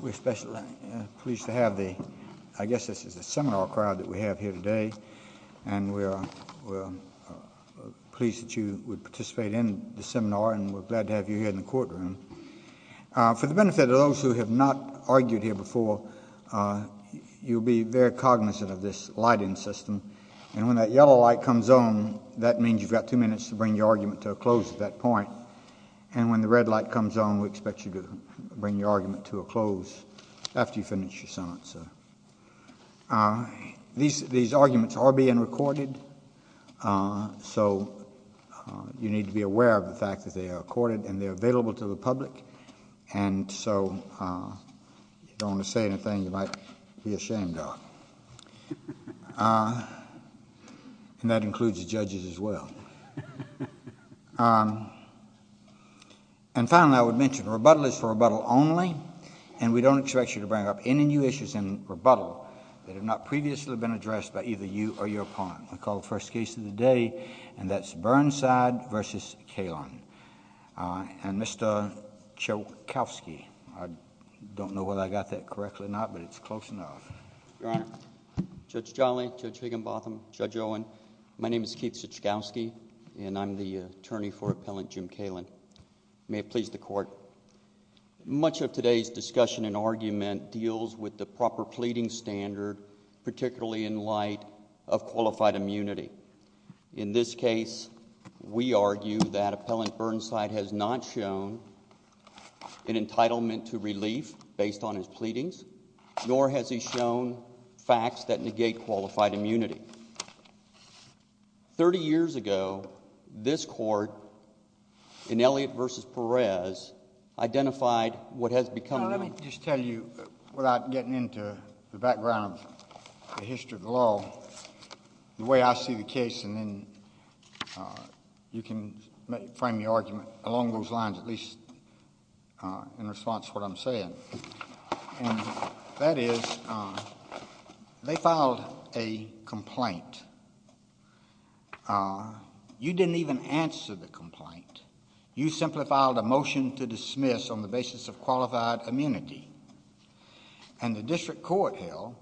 We're especially pleased to have the, I guess this is the seminar crowd that we have here today, and we're pleased that you would participate in the seminar, and we're glad to have you here in the courtroom. For the benefit of those who have not argued here before, you'll be very cognizant of this lighting system, and when that yellow light comes on, that means you've got two minutes to bring your argument to a close at that point, and when the red light comes on, we expect you to bring your argument to a close after you finish your sentence. These arguments are being recorded, so you need to be aware of the fact that they are recorded, and they're available to the public, and so if you don't want to say anything, you might be ashamed of. And that includes the judges as well. And finally, I would mention, rebuttal is for rebuttal only, and we don't expect you to bring up any new issues in rebuttal that have not previously been addressed by either you or your opponent. We call the first case of the day, and that's Burnside v. Calen. And Mr. Chokowski, I don't know whether I got that correctly or not, but it's close enough. Your Honor, Judge Jolly, Judge Higginbotham, Judge Owen, my name is Keith Chokowski, and I'm the attorney for Appellant Jim Calen. May it please the Court. Much of today's discussion and argument deals with the proper pleading standard, particularly in light of qualified immunity. In this case, we argue that Appellant Burnside has not shown an entitlement to relief based on his pleadings, nor has he shown facts that negate qualified immunity. Thirty years ago, this Court, in Elliott v. Perez, identified what has become of him. The history of the law, the way I see the case, and then you can frame your argument along those lines, at least in response to what I'm saying. And that is, they filed a complaint. You didn't even answer the complaint. You simply filed a motion to dismiss on the basis of qualified immunity. And the district court held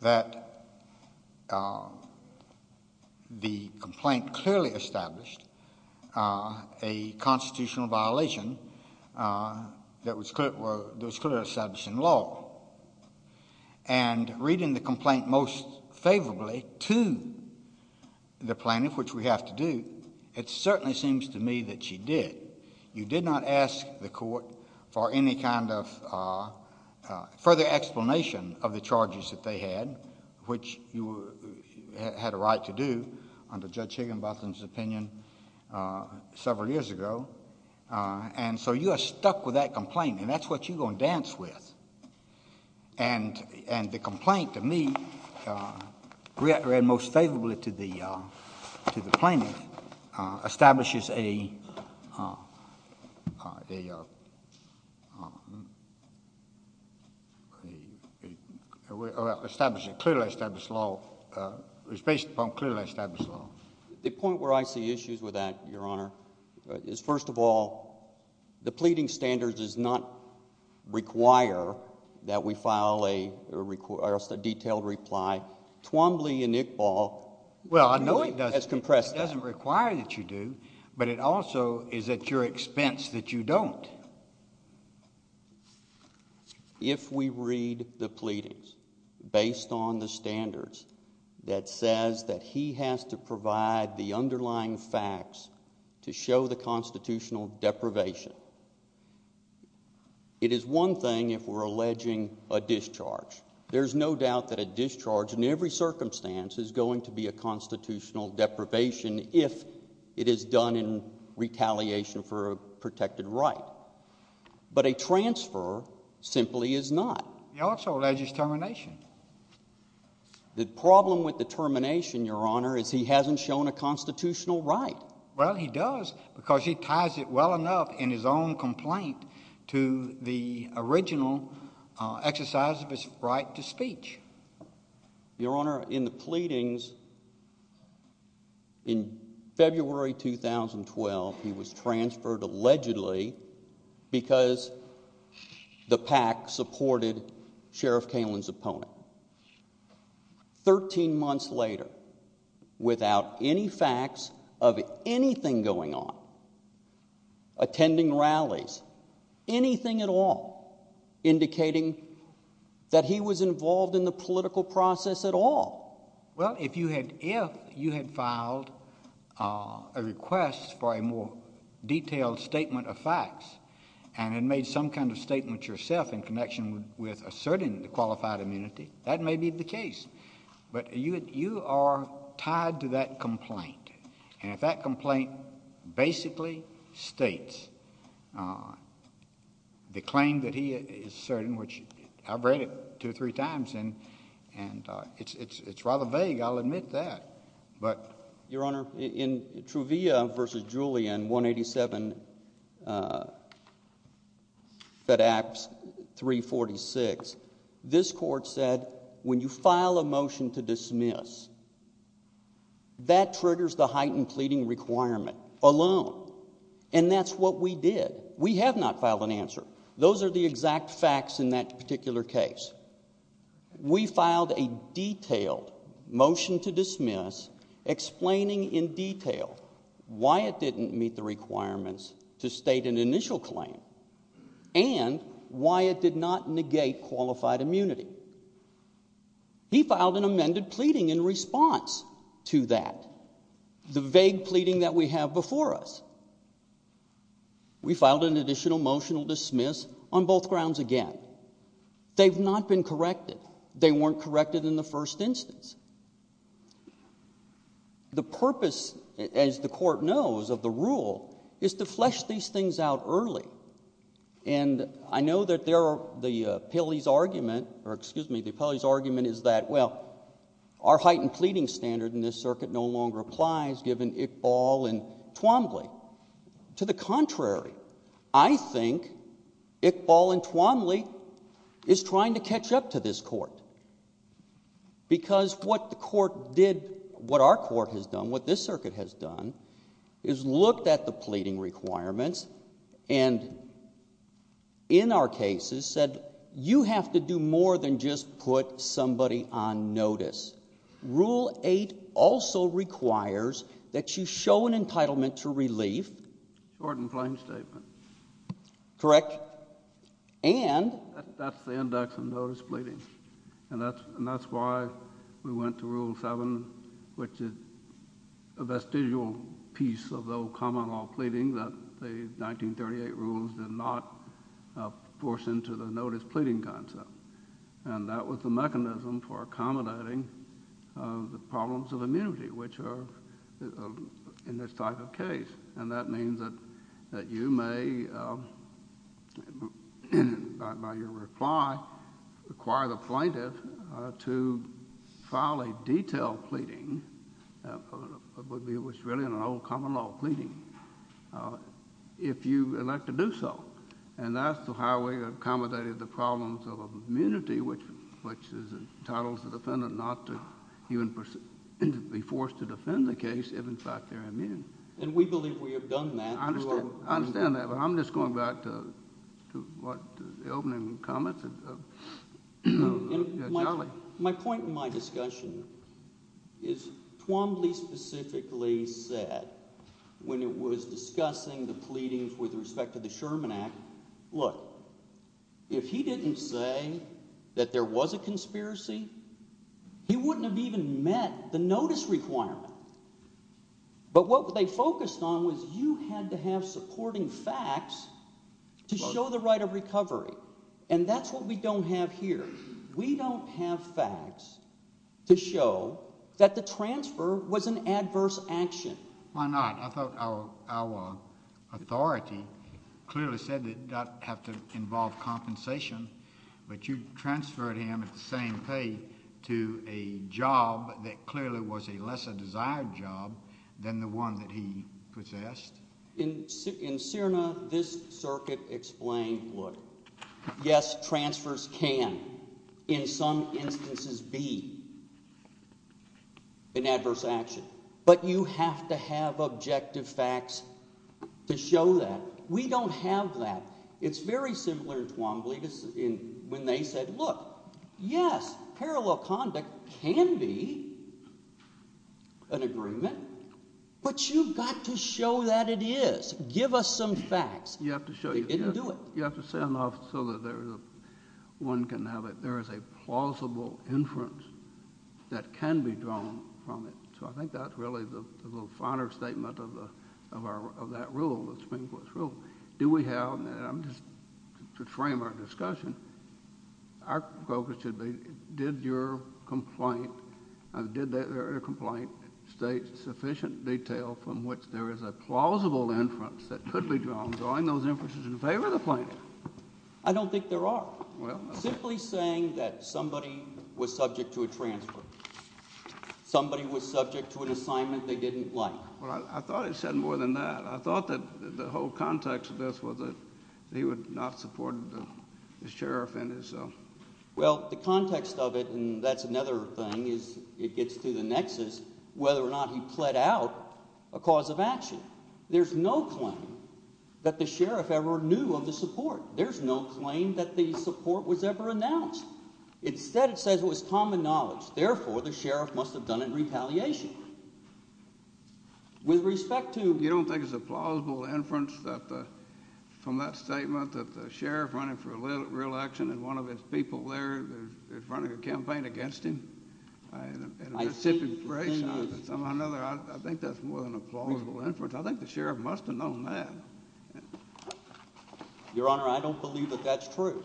that the complaint clearly established a constitutional violation that was clearly established in law. And reading the complaint most favorably to the plaintiff, which we have to do, it certainly seems to me that she did. You did not ask the Court for any kind of further explanation of the charges that they had, which you had a right to do under Judge Higginbotham's opinion several years ago. And so you are stuck with that complaint, and that's what you're going to dance with. And the complaint, to me, read most favorably to the plaintiff, establishes a clearly established law. It's based upon clearly established law. The point where I see issues with that, Your Honor, is, first of all, the pleading standards does not require that we file a detailed reply. Twombly and Iqbal has compressed that. Well, I know it doesn't require that you do, but it also is at your expense that you don't. But if we read the pleadings based on the standards that says that he has to provide the underlying facts to show the constitutional deprivation, it is one thing if we're alleging a discharge. There's no doubt that a discharge in every circumstance is going to be a constitutional deprivation if it is done in retaliation for a protected right. But a transfer simply is not. He also alleges termination. The problem with the termination, Your Honor, is he hasn't shown a constitutional right. Well, he does because he ties it well enough in his own complaint to the original exercise of his right to speech. Your Honor, in the pleadings in February 2012, he was transferred allegedly because the PAC supported Sheriff Kalin's opponent. Thirteen months later, without any facts of anything going on, attending rallies, anything at all, indicating that he was involved in the political process at all. Well, if you had filed a request for a more detailed statement of facts and had made some kind of statement yourself in connection with asserting the qualified immunity, that may be the case, but you are tied to that complaint. And if that complaint basically states the claim that he asserted, which I've read it two or three times and it's rather vague, I'll admit that. Your Honor, in Truvia v. Julian, 187 Fed Acts 346, this Court said when you file a motion to dismiss, that triggers the heightened pleading requirement alone. And that's what we did. We have not filed an answer. Those are the exact facts in that particular case. We filed a detailed motion to dismiss explaining in detail why it didn't meet the requirements to state an initial claim and why it did not negate qualified immunity. He filed an amended pleading in response to that, the vague pleading that we have before us. We filed an additional motion to dismiss on both grounds again. They've not been corrected. They weren't corrected in the first instance. The purpose, as the Court knows, of the rule, is to flesh these things out early. And I know that there are the appellee's argument, or excuse me, the appellee's argument is that, well, our heightened pleading standard in this circuit no longer applies given Iqbal and Twombly. To the contrary, I think Iqbal and Twombly is trying to catch up to this Court. Because what the Court did, what our Court has done, what this circuit has done, is looked at the pleading requirements and in our cases said you have to do more than just put somebody on notice. Rule 8 also requires that you show an entitlement to relief. Short and plain statement. Correct. And. That's the index of notice pleading. And that's why we went to Rule 7, which is a vestigial piece of the old common law pleading that the 1938 rules did not force into the notice pleading concept. And that was the mechanism for accommodating the problems of immunity, which are in this type of case. And that means that you may, by your reply, require the plaintiff to file a detailed pleading, which is really an old common law pleading, if you elect to do so. And that's how we accommodated the problems of immunity, which entitles the defendant not to even be forced to defend the case if, in fact, they're immune. And we believe we have done that. I understand that, but I'm just going back to the opening comments of Charlie. My point in my discussion is Twombly specifically said when it was discussing the pleadings with respect to the Sherman Act, look, if he didn't say that there was a conspiracy, he wouldn't have even met the notice requirement. But what they focused on was you had to have supporting facts to show the right of recovery. And that's what we don't have here. We don't have facts to show that the transfer was an adverse action. Why not? I thought our authority clearly said it did not have to involve compensation, but you transferred him at the same pay to a job that clearly was a lesser desired job than the one that he possessed. In CIRNA, this circuit explained, look, yes, transfers can, in some instances, be an adverse action. But you have to have objective facts to show that. We don't have that. It's very similar to Twombly when they said, look, yes, parallel conduct can be an agreement, but you've got to show that it is. Give us some facts. They didn't do it. You have to send off so that one can have it. There is a plausible inference that can be drawn from it. So I think that's really the finer statement of that rule, the Supreme Court's rule. Do we have, just to frame our discussion, our focus should be did your complaint state sufficient detail from which there is a plausible inference that could be drawn drawing those inferences in favor of the plaintiff? I don't think there are. Simply saying that somebody was subject to a transfer, somebody was subject to an assignment they didn't like. I thought it said more than that. I thought that the whole context of this was that he would not support the sheriff in his. Well, the context of it, and that's another thing, is it gets to the nexus whether or not he pled out a cause of action. There's no claim that the sheriff ever knew of the support. There's no claim that the support was ever announced. Instead, it says it was common knowledge. Therefore, the sheriff must have done it in retaliation. With respect to— You don't think it's a plausible inference from that statement that the sheriff running for reelection and one of his people there is running a campaign against him? I think that's more than a plausible inference. I think the sheriff must have known that. Your Honor, I don't believe that that's true.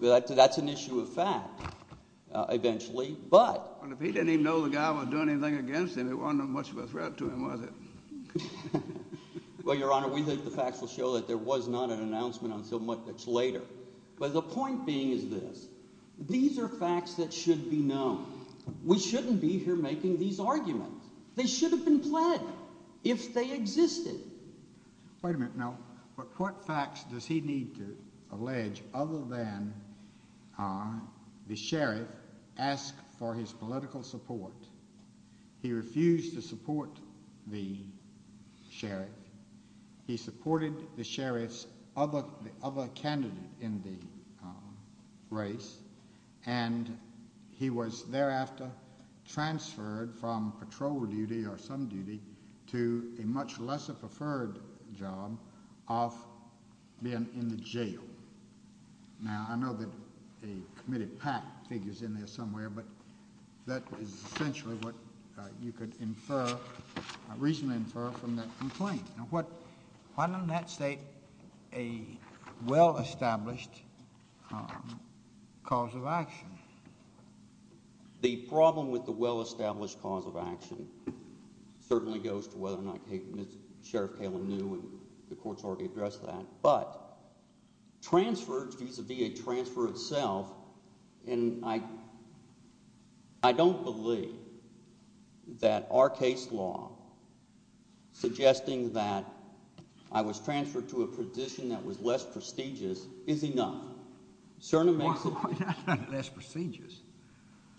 That's an issue of fact eventually, but— Well, if he didn't even know the guy was doing anything against him, it wasn't much of a threat to him, was it? Well, Your Honor, we think the facts will show that there was not an announcement until much later. But the point being is this. These are facts that should be known. We shouldn't be here making these arguments. They should have been pled if they existed. Wait a minute now. What facts does he need to allege other than the sheriff asked for his political support? He refused to support the sheriff. He supported the sheriff's other candidate in the race, and he was thereafter transferred from patrol duty or some duty to a much lesser preferred job of being in the jail. Now, I know that a committed PAC figure is in there somewhere, but that is essentially what you could infer, reasonably infer, from that complaint. Now, what—why don't that state a well-established cause of action? The problem with the well-established cause of action certainly goes to whether or not Sheriff Kalin knew, and the court's already addressed that. But transferred vis-a-vis a transfer itself, and I don't believe that our case law suggesting that I was transferred to a position that was less prestigious is enough. Cerna makes a point. Not less prestigious.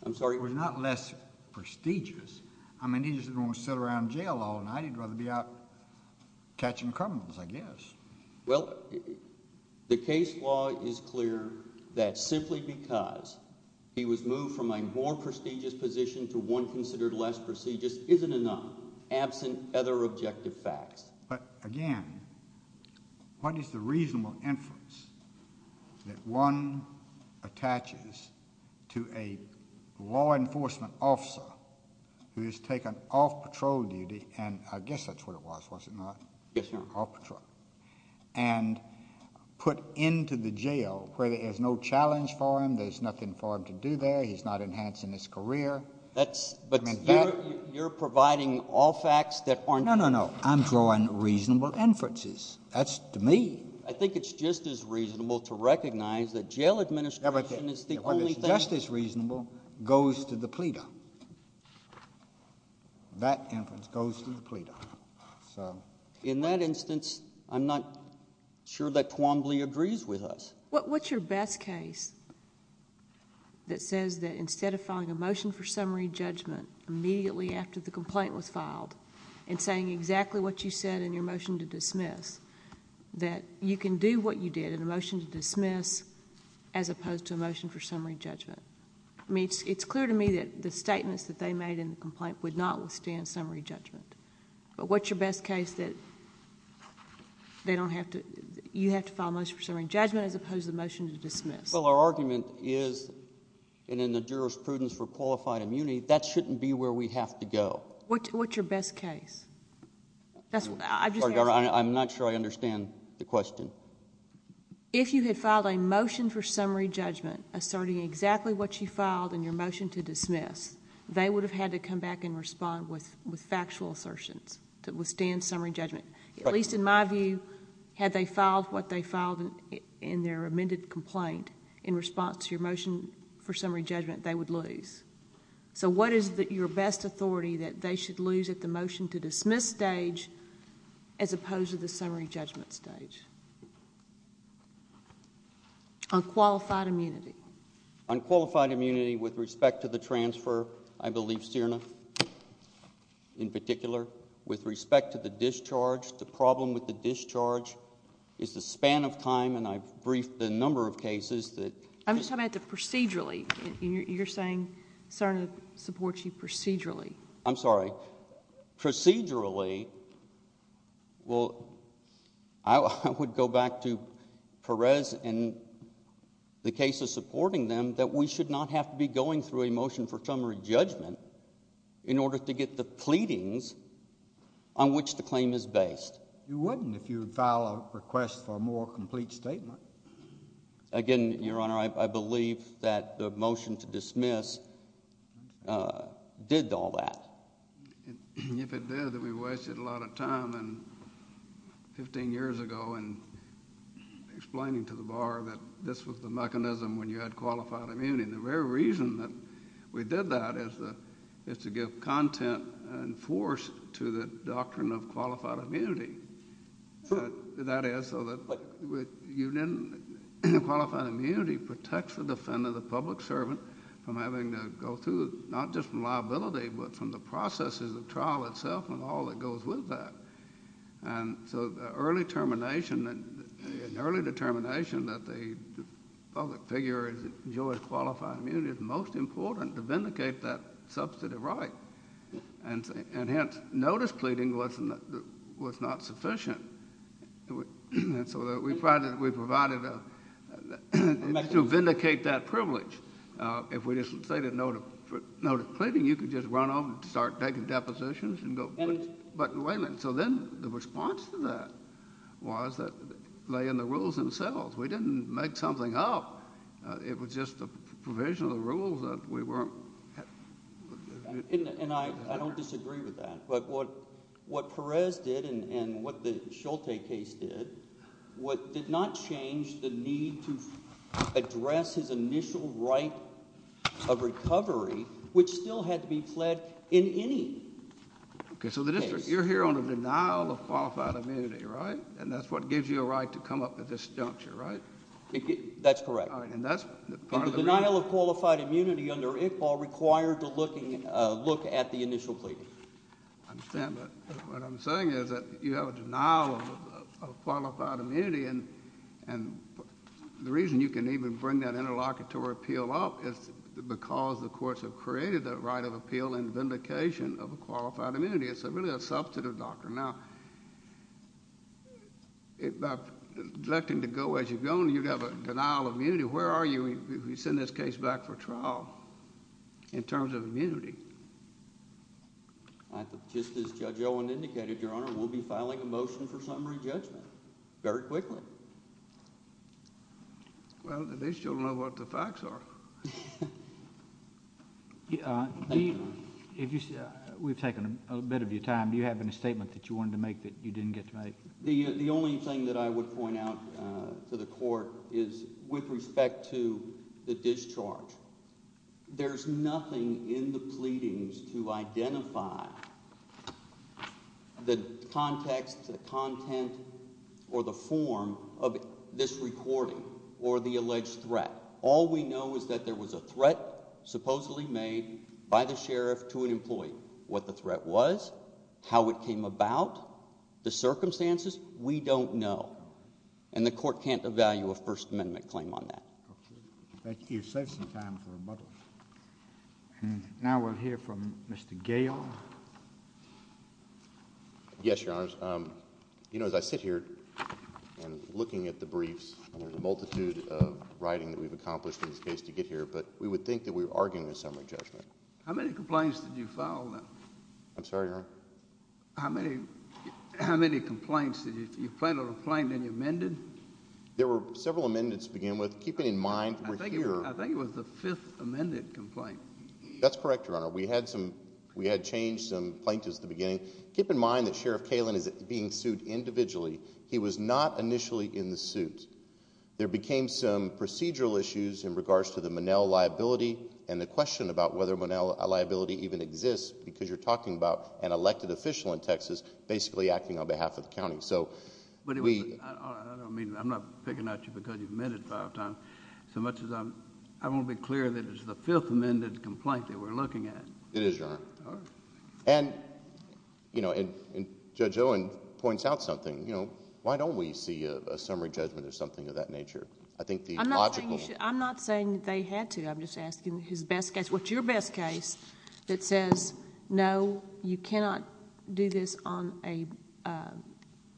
I'm sorry? It was not less prestigious. I mean he's going to sit around jail all night. He'd rather be out catching criminals, I guess. Well, the case law is clear that simply because he was moved from a more prestigious position to one considered less prestigious isn't enough, absent other objective facts. But again, what is the reasonable inference that one attaches to a law enforcement officer who is taken off patrol duty, and I guess that's what it was, was it not? Yes, Your Honor. Off patrol. And put into the jail where there's no challenge for him, there's nothing for him to do there, he's not enhancing his career? That's— You're providing all facts that aren't— No, no, no. I'm drawing reasonable inferences. That's to me. I think it's just as reasonable to recognize that jail administration is the only thing— Everything. Everything that's just as reasonable goes to the pleader. That inference goes to the pleader. In that instance, I'm not sure that Quambly agrees with us. What's your best case that says that instead of filing a motion for summary judgment immediately after the complaint was filed, and saying exactly what you said in your motion to dismiss, that you can do what you did in a motion to dismiss as opposed to a motion for summary judgment? I mean, it's clear to me that the statements that they made in the complaint would not withstand summary judgment. But what's your best case that they don't have to—you have to file a motion for summary judgment as opposed to a motion to dismiss? Well, our argument is, and in the jurisprudence for qualified immunity, that shouldn't be where we have to go. What's your best case? I'm not sure I understand the question. If you had filed a motion for summary judgment asserting exactly what you filed in your motion to dismiss, they would have had to come back and respond with factual assertions to withstand summary judgment. At least in my view, had they filed what they filed in their amended complaint in response to your motion for summary judgment, they would lose. So what is your best authority that they should lose at the motion to dismiss stage as opposed to the summary judgment stage? On qualified immunity. On qualified immunity with respect to the transfer, I believe CIRNA in particular. With respect to the discharge, the problem with the discharge is the span of time, and I've briefed a number of cases that— I'm just talking about the procedurally. You're saying CIRNA supports you procedurally. I'm sorry. Procedurally, well, I would go back to Perez in the case of supporting them that we should not have to be going through a motion for summary judgment in order to get the pleadings on which the claim is based. You wouldn't if you would file a request for a more complete statement. Again, Your Honor, I believe that the motion to dismiss did all that. If it did, then we wasted a lot of time 15 years ago in explaining to the bar that this was the mechanism when you had qualified immunity. And the very reason that we did that is to give content and force to the doctrine of qualified immunity. That is so that you didn't—qualified immunity protects the defendant, the public servant, from having to go through not just from liability but from the processes of trial itself and all that goes with that. And so the early termination and early determination that the public figure enjoys qualified immunity is most important to vindicate that substantive right. And hence, notice pleading was not sufficient. And so we provided—we provided a—to vindicate that privilege. If we just stated notice pleading, you could just run off and start taking depositions and go—but wait a minute. So then the response to that was that lay in the rules themselves. We didn't make something up. It was just a provision of the rules that we weren't— And I don't disagree with that. But what Perez did and what the Schulte case did did not change the need to address his initial right of recovery, which still had to be fled in any case. Okay, so the district—you're here on a denial of qualified immunity, right? And that's what gives you a right to come up at this juncture, right? That's correct. All right, and that's part of the reason— And the denial of qualified immunity under ICPAL required to look at the initial pleading. I understand, but what I'm saying is that you have a denial of qualified immunity, and the reason you can even bring that interlocutory appeal up is because the courts have created that right of appeal and vindication of a qualified immunity. It's really a substantive doctrine. Now, by electing to go as you're going, you'd have a denial of immunity. Where are you if you send this case back for trial in terms of immunity? Just as Judge Owen indicated, Your Honor, we'll be filing a motion for summary judgment very quickly. Well, at least you'll know what the facts are. Thank you, Your Honor. We've taken a bit of your time. Do you have any statement that you wanted to make that you didn't get to make? The only thing that I would point out to the court is with respect to the discharge, there's nothing in the pleadings to identify the context, the content, or the form of this recording or the alleged threat. All we know is that there was a threat supposedly made by the sheriff to an employee. What the threat was, how it came about, the circumstances, we don't know. And the court can't evaluate a First Amendment claim on that. Thank you. You saved some time for rebuttals. Now we'll hear from Mr. Gayle. Yes, Your Honor. You know, as I sit here and looking at the briefs, there's a multitude of writing that we've accomplished in this case to get here, but we would think that we were arguing a summary judgment. How many complaints did you file? I'm sorry, Your Honor? How many complaints? Did you file a complaint and then you amended? There were several amendments to begin with, keeping in mind we're here. That's correct, Your Honor. We had changed some plaintiffs at the beginning. Keep in mind that Sheriff Kalin is being sued individually. He was not initially in the suit. There became some procedural issues in regards to the Monell liability and the question about whether Monell liability even exists because you're talking about an elected official in Texas basically acting on behalf of the county. I don't mean... I'm not picking at you because you've amended five times so much as I want to be clear that it's the fifth amended complaint that we're looking at. It is, Your Honor. All right. And Judge Owen points out something. Why don't we see a summary judgment or something of that nature? I think the logical... I'm not saying they had to. What's your best case that says, no, you cannot do this on a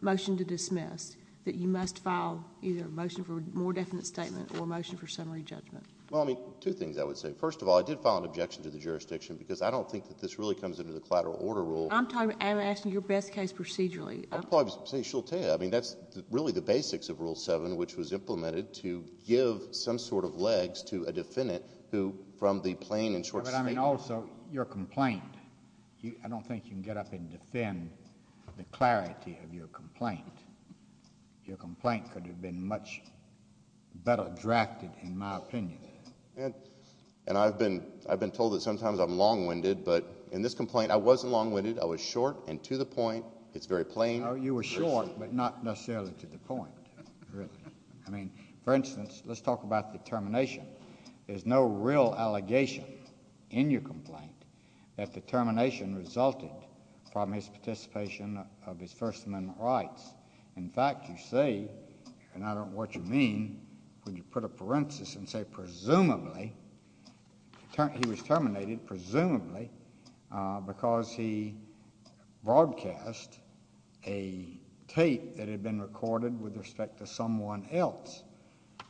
motion to dismiss, that you must file either a motion for a more definite statement or a motion for summary judgment? Well, I mean, two things I would say. First of all, I did file an objection to the jurisdiction because I don't think that this really comes under the collateral order rule. I'm asking your best case procedurally. I'd probably say shultea. I mean, that's really the basics of Rule 7, which was implemented to give some sort of legs to a defendant who, from the plain and short statement... But, I mean, also your complaint. I don't think you can get up and defend the clarity of your complaint. Your complaint could have been much better drafted, in my opinion. And I've been told that sometimes I'm long-winded, but in this complaint, I wasn't long-winded. I was short and to the point. It's very plain. Oh, you were short, but not necessarily to the point, really. I mean, for instance, let's talk about the termination. There's no real allegation in your complaint that the termination resulted from his participation of his First Amendment rights. In fact, you say, and I don't know what you mean, when you put a parenthesis and say presumably... He was terminated, presumably, because he broadcast a tape that had been recorded with respect to someone else.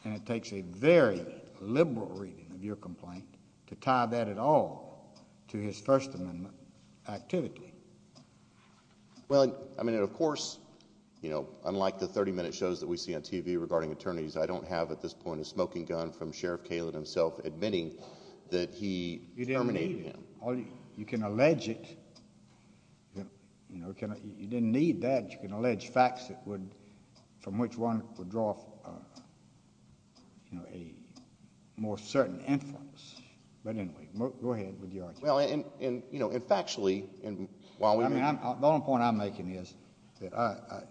And it takes a very liberal reading of your complaint to tie that at all to his First Amendment activity. Well, I mean, of course, unlike the 30-minute shows that we see on TV regarding attorneys, I don't have, at this point, a smoking gun from Sheriff Kalen himself admitting that he terminated him. You didn't need it. You can allege it. You didn't need that. You can allege facts from which one would draw a more certain influence. But anyway, go ahead with your argument. Well, and factually... I mean, the only point I'm making is that I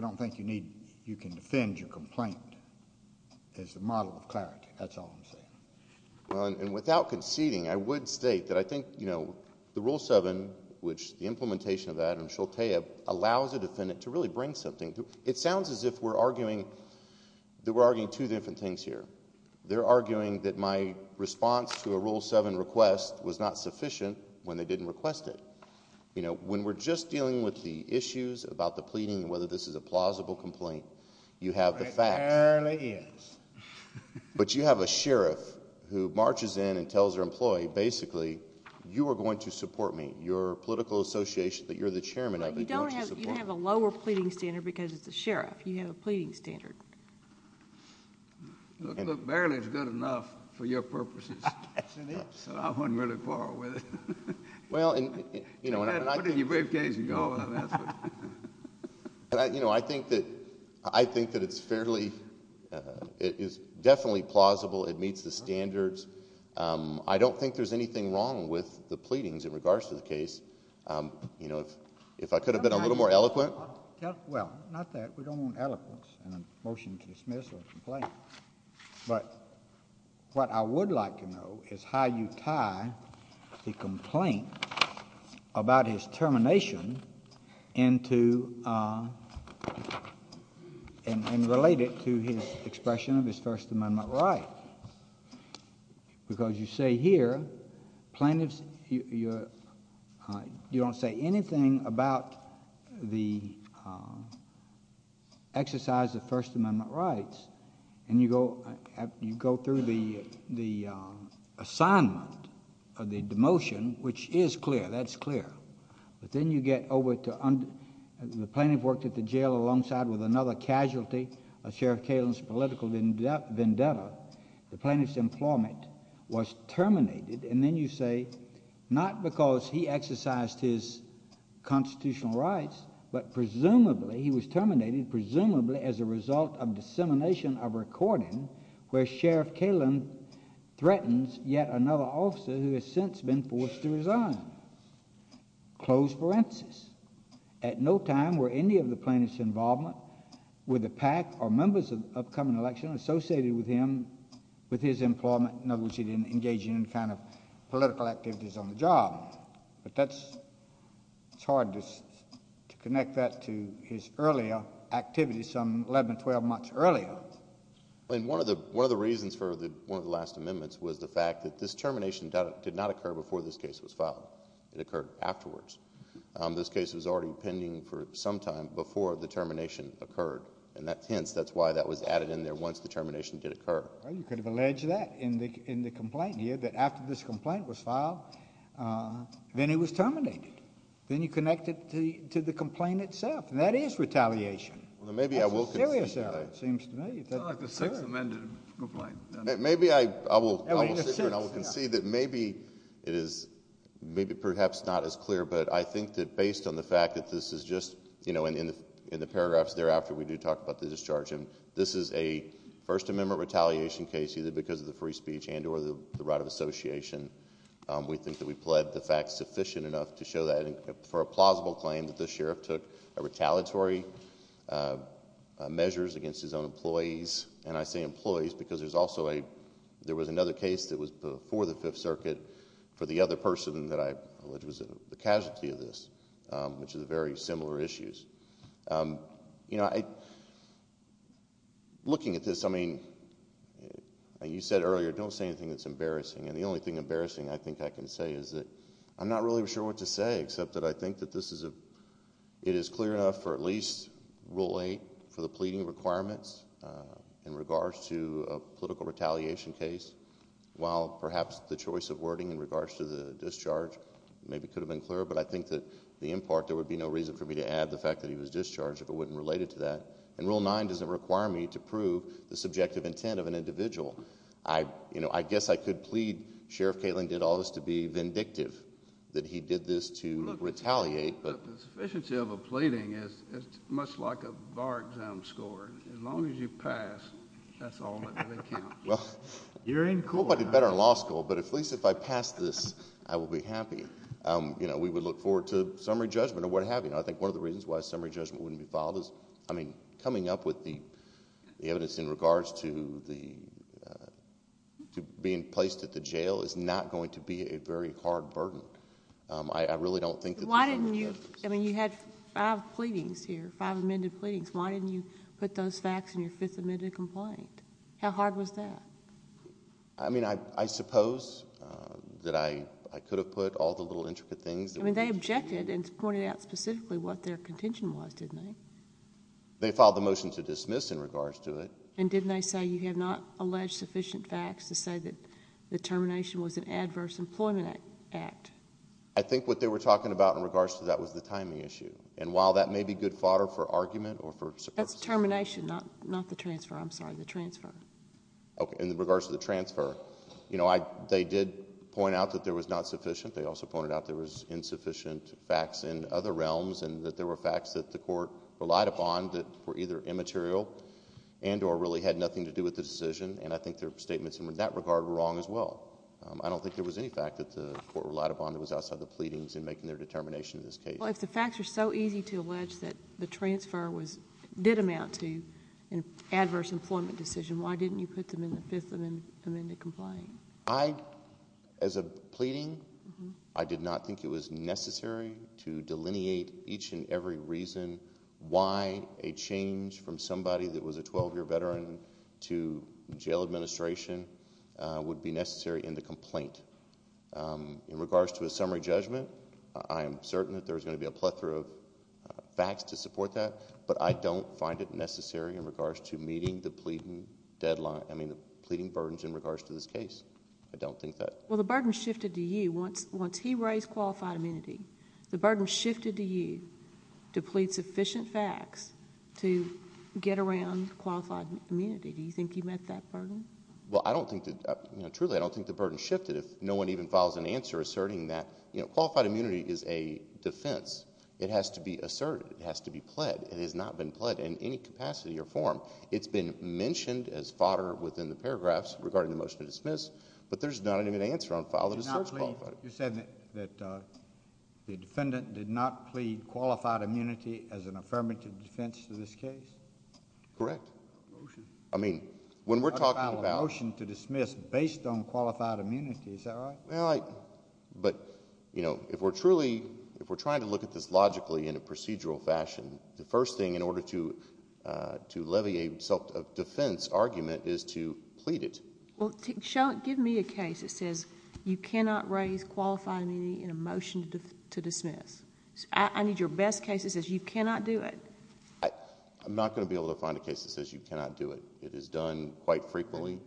don't think you can defend your complaint as a model of clarity. That's all I'm saying. Well, and without conceding, I would state that I think the Rule 7, which the implementation of that, and Sholtea allows a defendant to really bring something to... It sounds as if we're arguing that we're arguing two different things here. They're arguing that my response to a Rule 7 request was not sufficient when they didn't request it. When we're just dealing with the issues about the pleading and whether this is a plausible complaint, you have the facts. It apparently is. But you have a sheriff who marches in and tells their employee, basically, you are going to support me, your political association that you're the chairman of, you're going to support me. You don't have a lower pleading standard because it's a sheriff. You have a pleading standard. Look, barely is good enough for your purposes, so I wouldn't really quarrel with it. Well, and... Put it in your briefcase and go with it. I think that it's fairly... it is definitely plausible. It meets the standards. I don't think there's anything wrong with the pleadings in regards to the case. You know, if I could have been a little more eloquent... Well, not that. We don't want eloquence in a motion to dismiss or a complaint. But what I would like to know is how you tie the complaint about his termination into... and relate it to his expression of his First Amendment right. Because you say here, plaintiffs... you don't say anything about the exercise of First Amendment rights, and you go through the assignment of the demotion, which is clear, that's clear. But then you get over to... the plaintiff worked at the jail alongside with another casualty, a Sheriff Kalin's political vendetta. The plaintiff's employment was terminated. And then you say, not because he exercised his constitutional rights, but presumably he was terminated presumably as a result of dissemination of a recording where Sheriff Kalin threatens yet another officer who has since been forced to resign. Close parentheses. At no time were any of the plaintiff's involvement with the PAC or members of the upcoming election associated with him... with his employment. In other words, he didn't engage in any kind of political activities on the job. But that's... it's hard to connect that to his earlier activities some 11, 12 months earlier. One of the reasons for one of the last amendments was the fact that this termination did not occur before this case was filed. It occurred afterwards. This case was already pending for some time before the termination occurred. And hence, that's why that was added in there once the termination did occur. Well, you could have alleged that in the complaint here, that after this complaint was filed, then it was terminated. Then you connect it to the complaint itself, and that is retaliation. That's a serious error, it seems to me. It's not like the sixth amended complaint. Maybe I will... I will sit here and I will concede that maybe it is... maybe perhaps not as clear, but I think that based on the fact that this is just... you know, in the paragraphs thereafter, we do talk about the discharge. This is a First Amendment retaliation case, either because of the free speech and or the right of association. We think that we pled the facts sufficient enough to show that for a plausible claim that the sheriff took retaliatory measures against his own employees. And I say employees, because there's also a... there was another case that was before the Fifth Circuit for the other person that I alleged was the casualty of this, which is very similar issues. You know, looking at this, I mean, you said earlier, don't say anything that's embarrassing. And the only thing embarrassing I think I can say is that I'm not really sure what to say, except that I think that this is a... it is clear enough for at least Rule 8 for the pleading requirements in regards to a political retaliation case, while perhaps the choice of wording in regards to the discharge maybe could have been clearer. But I think that the end part, there would be no reason for me to add the fact that he was discharged if it wasn't related to that. And Rule 9 doesn't require me to prove the subjective intent of an individual. I guess I could plead, Sheriff Katelyn did all this to be vindictive, that he did this to retaliate. But the sufficiency of a pleading is much like a bar exam score. As long as you pass, that's all that really counts. You're in court. I hope I did better in law school, but at least if I pass this, I will be happy. We would look forward to summary judgment or what have you. You know, I think one of the reasons why a summary judgment wouldn't be filed is, I mean, coming up with the evidence in regards to being placed at the jail is not going to be a very hard burden. I really don't think that the summary judgment... But why didn't you... I mean, you had five pleadings here, five amended pleadings. Why didn't you put those facts in your fifth amended complaint? How hard was that? I mean, I suppose that I could have put all the little intricate things... I mean, they objected and pointed out specifically what their contention was, didn't they? They filed the motion to dismiss in regards to it. And didn't they say you have not alleged sufficient facts to say that the termination was an adverse employment act? I think what they were talking about in regards to that was the timing issue. And while that may be good fodder for argument or for... That's termination, not the transfer. I'm sorry, the transfer. Okay, in regards to the transfer, you know, they did point out that there was not sufficient. They also pointed out there was insufficient facts in other realms. And that there were facts that the court relied upon that were either immaterial and or really had nothing to do with the decision. And I think their statements in that regard were wrong as well. I don't think there was any fact that the court relied upon that was outside the pleadings in making their determination in this case. Well, if the facts are so easy to allege that the transfer did amount to an adverse employment decision, why didn't you put them in the fifth amended complaint? I, as a pleading, I did not think it was necessary to delineate each and every reason why a change from somebody that was a 12-year veteran to jail administration would be necessary in the complaint. In regards to a summary judgment, I am certain that there's going to be a plethora of facts to support that. But I don't find it necessary in regards to meeting the pleading deadline, I mean, the pleading burdens in regards to this case. I don't think that. Well, the burden shifted to you. Once he raised qualified immunity, the burden shifted to you to plead sufficient facts to get around qualified immunity. Do you think you met that burden? Well, I don't think that, you know, truly I don't think the burden shifted if no one even files an answer asserting that, you know, qualified immunity is a defense. It has to be asserted. It has to be pled. It has not been pled in any capacity or form. It's been mentioned as fodder within the paragraphs regarding the motion to dismiss, but there's not even an answer on file that asserts qualified. You're saying that the defendant did not plead qualified immunity as an affirmative defense to this case? Correct. Motion. I mean, when we're talking about... Not to file a motion to dismiss based on qualified immunity, is that right? Well, but, you know, if we're truly, if we're trying to look at this logically in a procedural fashion, the first thing in order to levy a self-defense argument is to plead it. Well, give me a case that says you cannot raise qualified immunity in a motion to dismiss. I need your best case that says you cannot do it. I'm not going to be able to find a case that says you cannot do it. It is done quite frequently.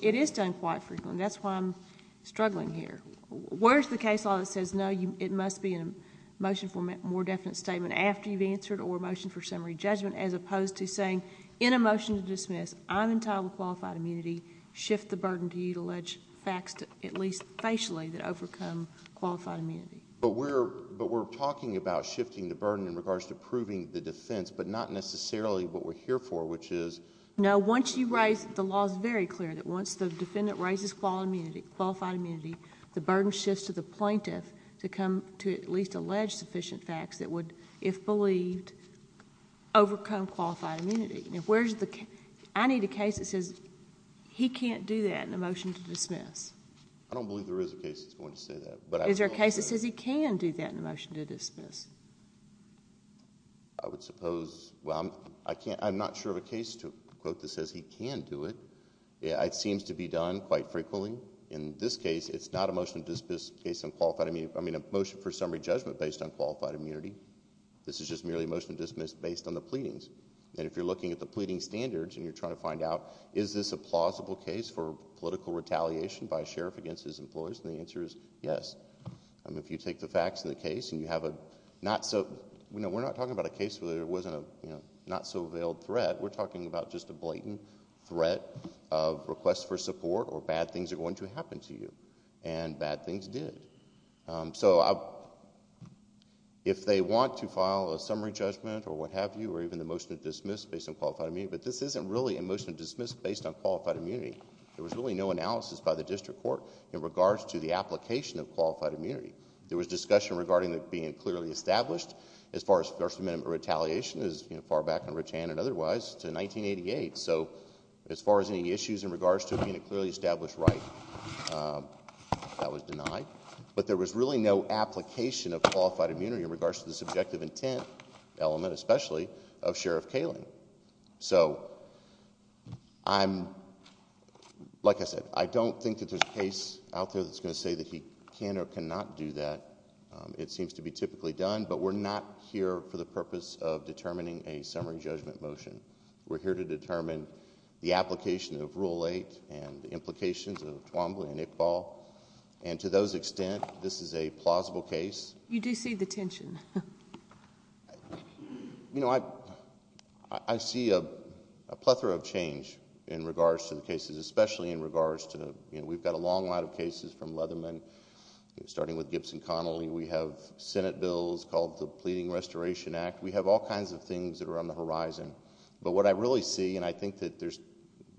It is done quite frequently. That's why I'm struggling here. Where's the case law that says, no, it must be a motion for more definite statement after you've answered or a motion for summary judgment as opposed to saying, in a motion to dismiss, I'm entitled to qualified immunity, shift the burden to you to allege facts, at least facially, that overcome qualified immunity. But we're talking about shifting the burden in regards to proving the defense, but not necessarily what we're here for, which is... No, once you raise... the law is very clear that once the defendant raises qualified immunity, the burden shifts to the plaintiff to come to at least allege sufficient facts that would, if believed, overcome qualified immunity. I need a case that says he can't do that in a motion to dismiss. I don't believe there is a case that's going to say that. Is there a case that says he can do that in a motion to dismiss? I would suppose... well, I'm not sure of a case to quote that says he can do it. It seems to be done quite frequently. In this case, it's not a motion to dismiss based on qualified immunity. I mean a motion for summary judgment based on qualified immunity. This is just merely a motion to dismiss based on the pleadings. And if you're looking at the pleading standards and you're trying to find out, is this a plausible case for political retaliation by a sheriff against his employees? And the answer is yes. If you take the facts of the case and you have a not so... we're not talking about a case where there wasn't a not so veiled threat. We're talking about just a blatant threat of requests for support or bad things are going to happen to you. And bad things did. So if they want to file a summary judgment or what have you or even a motion to dismiss based on qualified immunity, but this isn't really a motion to dismiss based on qualified immunity. There was really no analysis by the district court in regards to the application of qualified immunity. There was discussion regarding it being clearly established. As far as First Amendment retaliation is far back in rich hand and otherwise to 1988. So as far as any issues in regards to it being a clearly established right, that was denied. But there was really no application of qualified immunity in regards to the subjective intent element, especially, of Sheriff Kalin. So I'm... like I said, I don't think that there's a case out there that's going to say that he can or cannot do that. It seems to be typically done, but we're not here for the purpose of determining a summary judgment motion. We're here to determine the application of Rule 8 and the implications of Twombly and Iqbal. And to those extent, this is a plausible case. You do see the tension. You know, I see a plethora of change in regards to the cases, especially in regards to... We've got a long line of cases from Leatherman, starting with Gibson Connelly. We have Senate bills called the Pleading Restoration Act. We have all kinds of things that are on the horizon. But what I really see, and I think that there's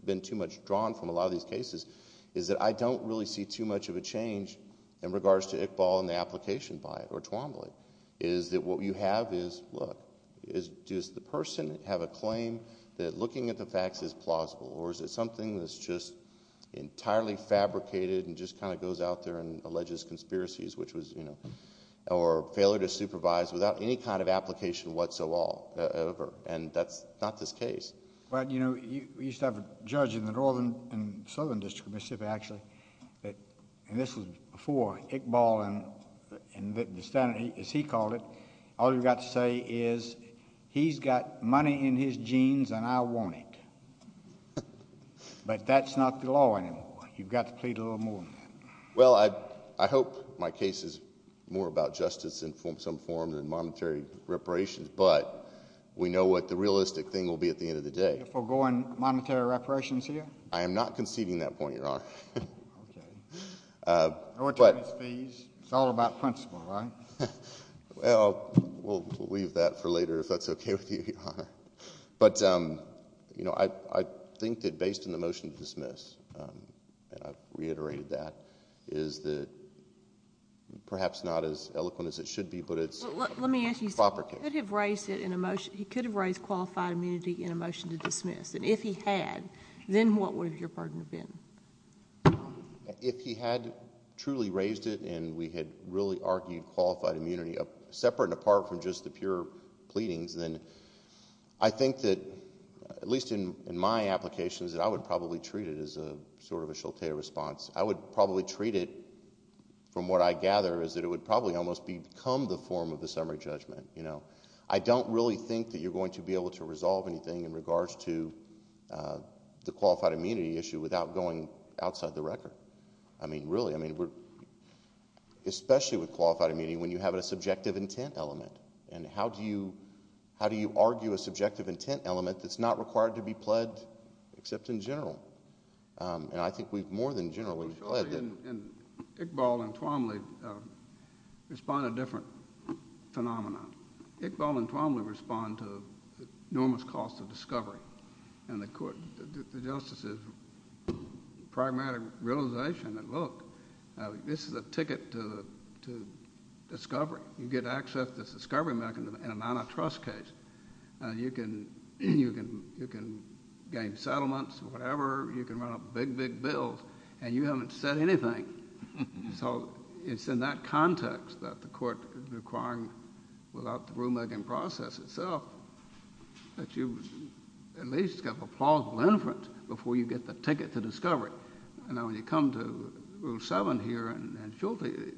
been too much drawn from a lot of these cases, is that I don't really see too much of a change in regards to Iqbal and the application by it or Twombly. What you have is, look, does the person have a claim that looking at the facts is plausible or is it something that's just entirely fabricated and just kind of goes out there and alleges conspiracies or failure to supervise without any kind of application whatsoever? And that's not this case. Well, you know, you used to have a judge in the northern and southern district of Mississippi, actually. And this was before Iqbal and the Senate, as he called it. All you've got to say is, he's got money in his jeans and I want it. But that's not the law anymore. You've got to plead a little more than that. Well, I hope my case is more about justice in some form than monetary reparations. But we know what the realistic thing will be at the end of the day. Forgoing monetary reparations here? I am not conceding that point, Your Honor. Okay. No attorneys' fees. It's all about principle, right? Well, we'll leave that for later, if that's okay with you, Your Honor. But, you know, I think that based on the motion to dismiss, and I've reiterated that, But let me ask you something. Proper case. He could have raised it in a motion. He could have raised qualified immunity in a motion to dismiss. And if he had, then what would your pardon have been? If he had truly raised it and we had really argued qualified immunity, separate and apart from just the pure pleadings, then I think that, at least in my applications, that I would probably treat it as a sort of a shilte response. I would probably treat it, from what I gather, as that it would probably almost become the form of the summary judgment. I don't really think that you're going to be able to resolve anything in regards to the qualified immunity issue without going outside the record. I mean, really, especially with qualified immunity when you have a subjective intent element. And how do you argue a subjective intent element that's not required to be pled except in general? And I think we've more than generally pledged it. And Iqbal and Twomley respond to different phenomena. Iqbal and Twomley respond to the enormous cost of discovery. And the court, the justices, pragmatic realization that, look, this is a ticket to discovery. You get access to the discovery mechanism in a non-trust case. You can gain settlements or whatever. You can run up big, big bills. And you haven't said anything. So it's in that context that the court is requiring, without the rulemaking process itself, that you at least get a plausible inference before you get the ticket to discovery. Now, when you come to Rule 7 here and shilte,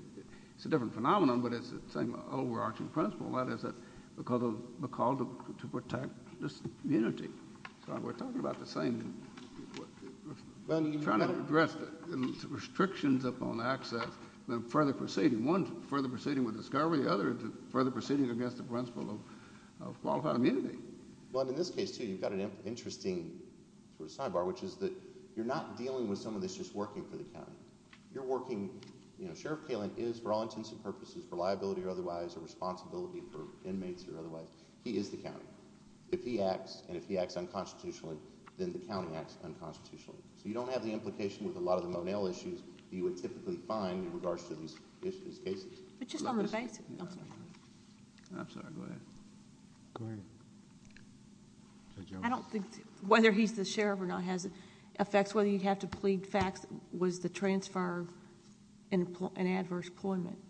it's a different phenomenon, but it's the same overarching principle. That is, because of the call to protect immunity. So we're talking about the same thing. We're trying to address the restrictions upon access and further proceeding. One is further proceeding with discovery. The other is further proceeding against the principle of qualified immunity. Well, in this case, too, you've got an interesting sort of sidebar, which is that you're not dealing with someone that's just working for the county. Sheriff Kalen is, for all intents and purposes, for liability or otherwise, or responsibility for inmates or otherwise. He is the county. If he acts, and if he acts unconstitutionally, then the county acts unconstitutionally. So you don't have the implication with a lot of the Monell issues that you would typically find in regards to these cases. But just on the basis. I'm sorry. I'm sorry. Go ahead. Go ahead. I don't think whether he's the sheriff or not has effects. That's whether you'd have to plead facts. Was the transfer an adverse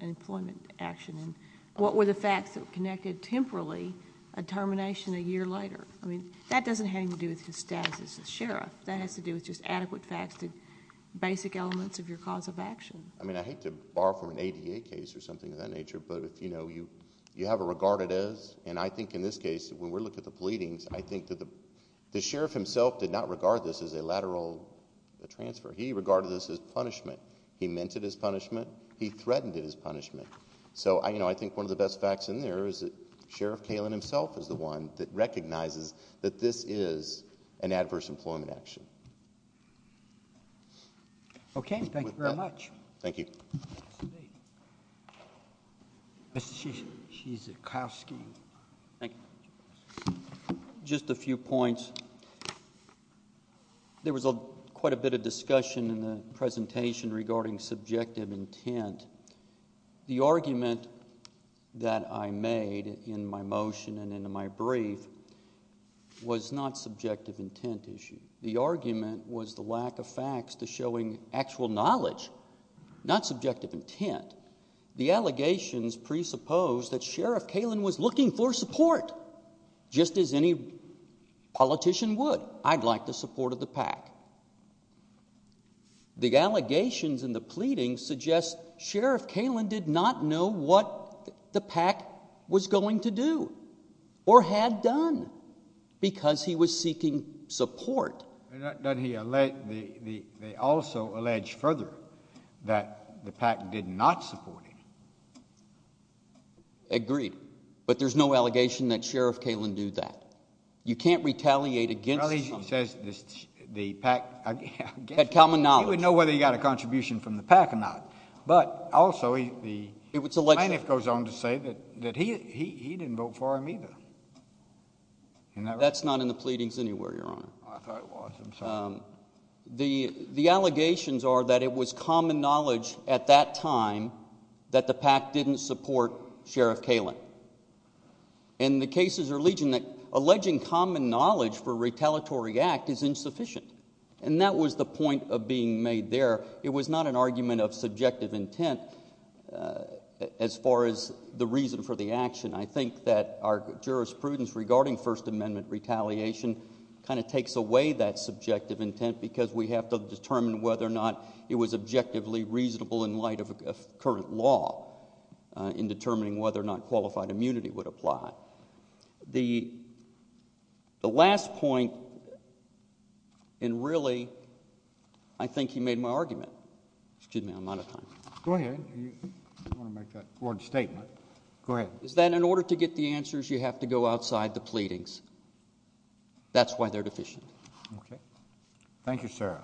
employment action? And what were the facts that connected temporally a termination a year later? I mean, that doesn't have anything to do with his status as a sheriff. That has to do with just adequate facts, basic elements of your cause of action. I mean, I hate to borrow from an ADA case or something of that nature, but you have a regarded as. And I think in this case, when we look at the pleadings, I think that the sheriff himself did not regard this as a lateral transfer. He regarded this as punishment. He meant it as punishment. He threatened it as punishment. So I think one of the best facts in there is that Sheriff Kalin himself is the one that recognizes that this is an adverse employment action. Okay. Thank you very much. Thank you. Mr. Chief, Chief Zukoski. Thank you. Just a few points. There was quite a bit of discussion in the presentation regarding subjective intent. The argument that I made in my motion and in my brief was not subjective intent issue. The argument was the lack of facts to showing actual knowledge, not subjective intent. The allegations presuppose that Sheriff Kalin was looking for support, just as any politician would. I'd like the support of the PAC. The allegations in the pleadings suggest Sheriff Kalin did not know what the PAC was going to do or had done because he was seeking support. They also allege further that the PAC did not support him. Agreed. But there's no allegation that Sheriff Kalin did that. You can't retaliate against somebody. Well, he says the PAC— Had common knowledge. He would know whether he got a contribution from the PAC or not. But also, the plaintiff goes on to say that he didn't vote for him either. That's not in the pleadings anywhere, Your Honor. I thought it was. I'm sorry. The allegations are that it was common knowledge at that time that the PAC didn't support Sheriff Kalin. And the cases are alleging that common knowledge for a retaliatory act is insufficient. And that was the point of being made there. It was not an argument of subjective intent as far as the reason for the action. I think that our jurisprudence regarding First Amendment retaliation kind of takes away that subjective intent because we have to determine whether or not it was objectively reasonable in light of current law in determining whether or not qualified immunity would apply. The last point, and really I think he made my argument—excuse me, I'm out of time. Go ahead. You want to make that court statement. Go ahead. Is that in order to get the answers, you have to go outside the pleadings. That's why they're deficient. Okay. Thank you, sir.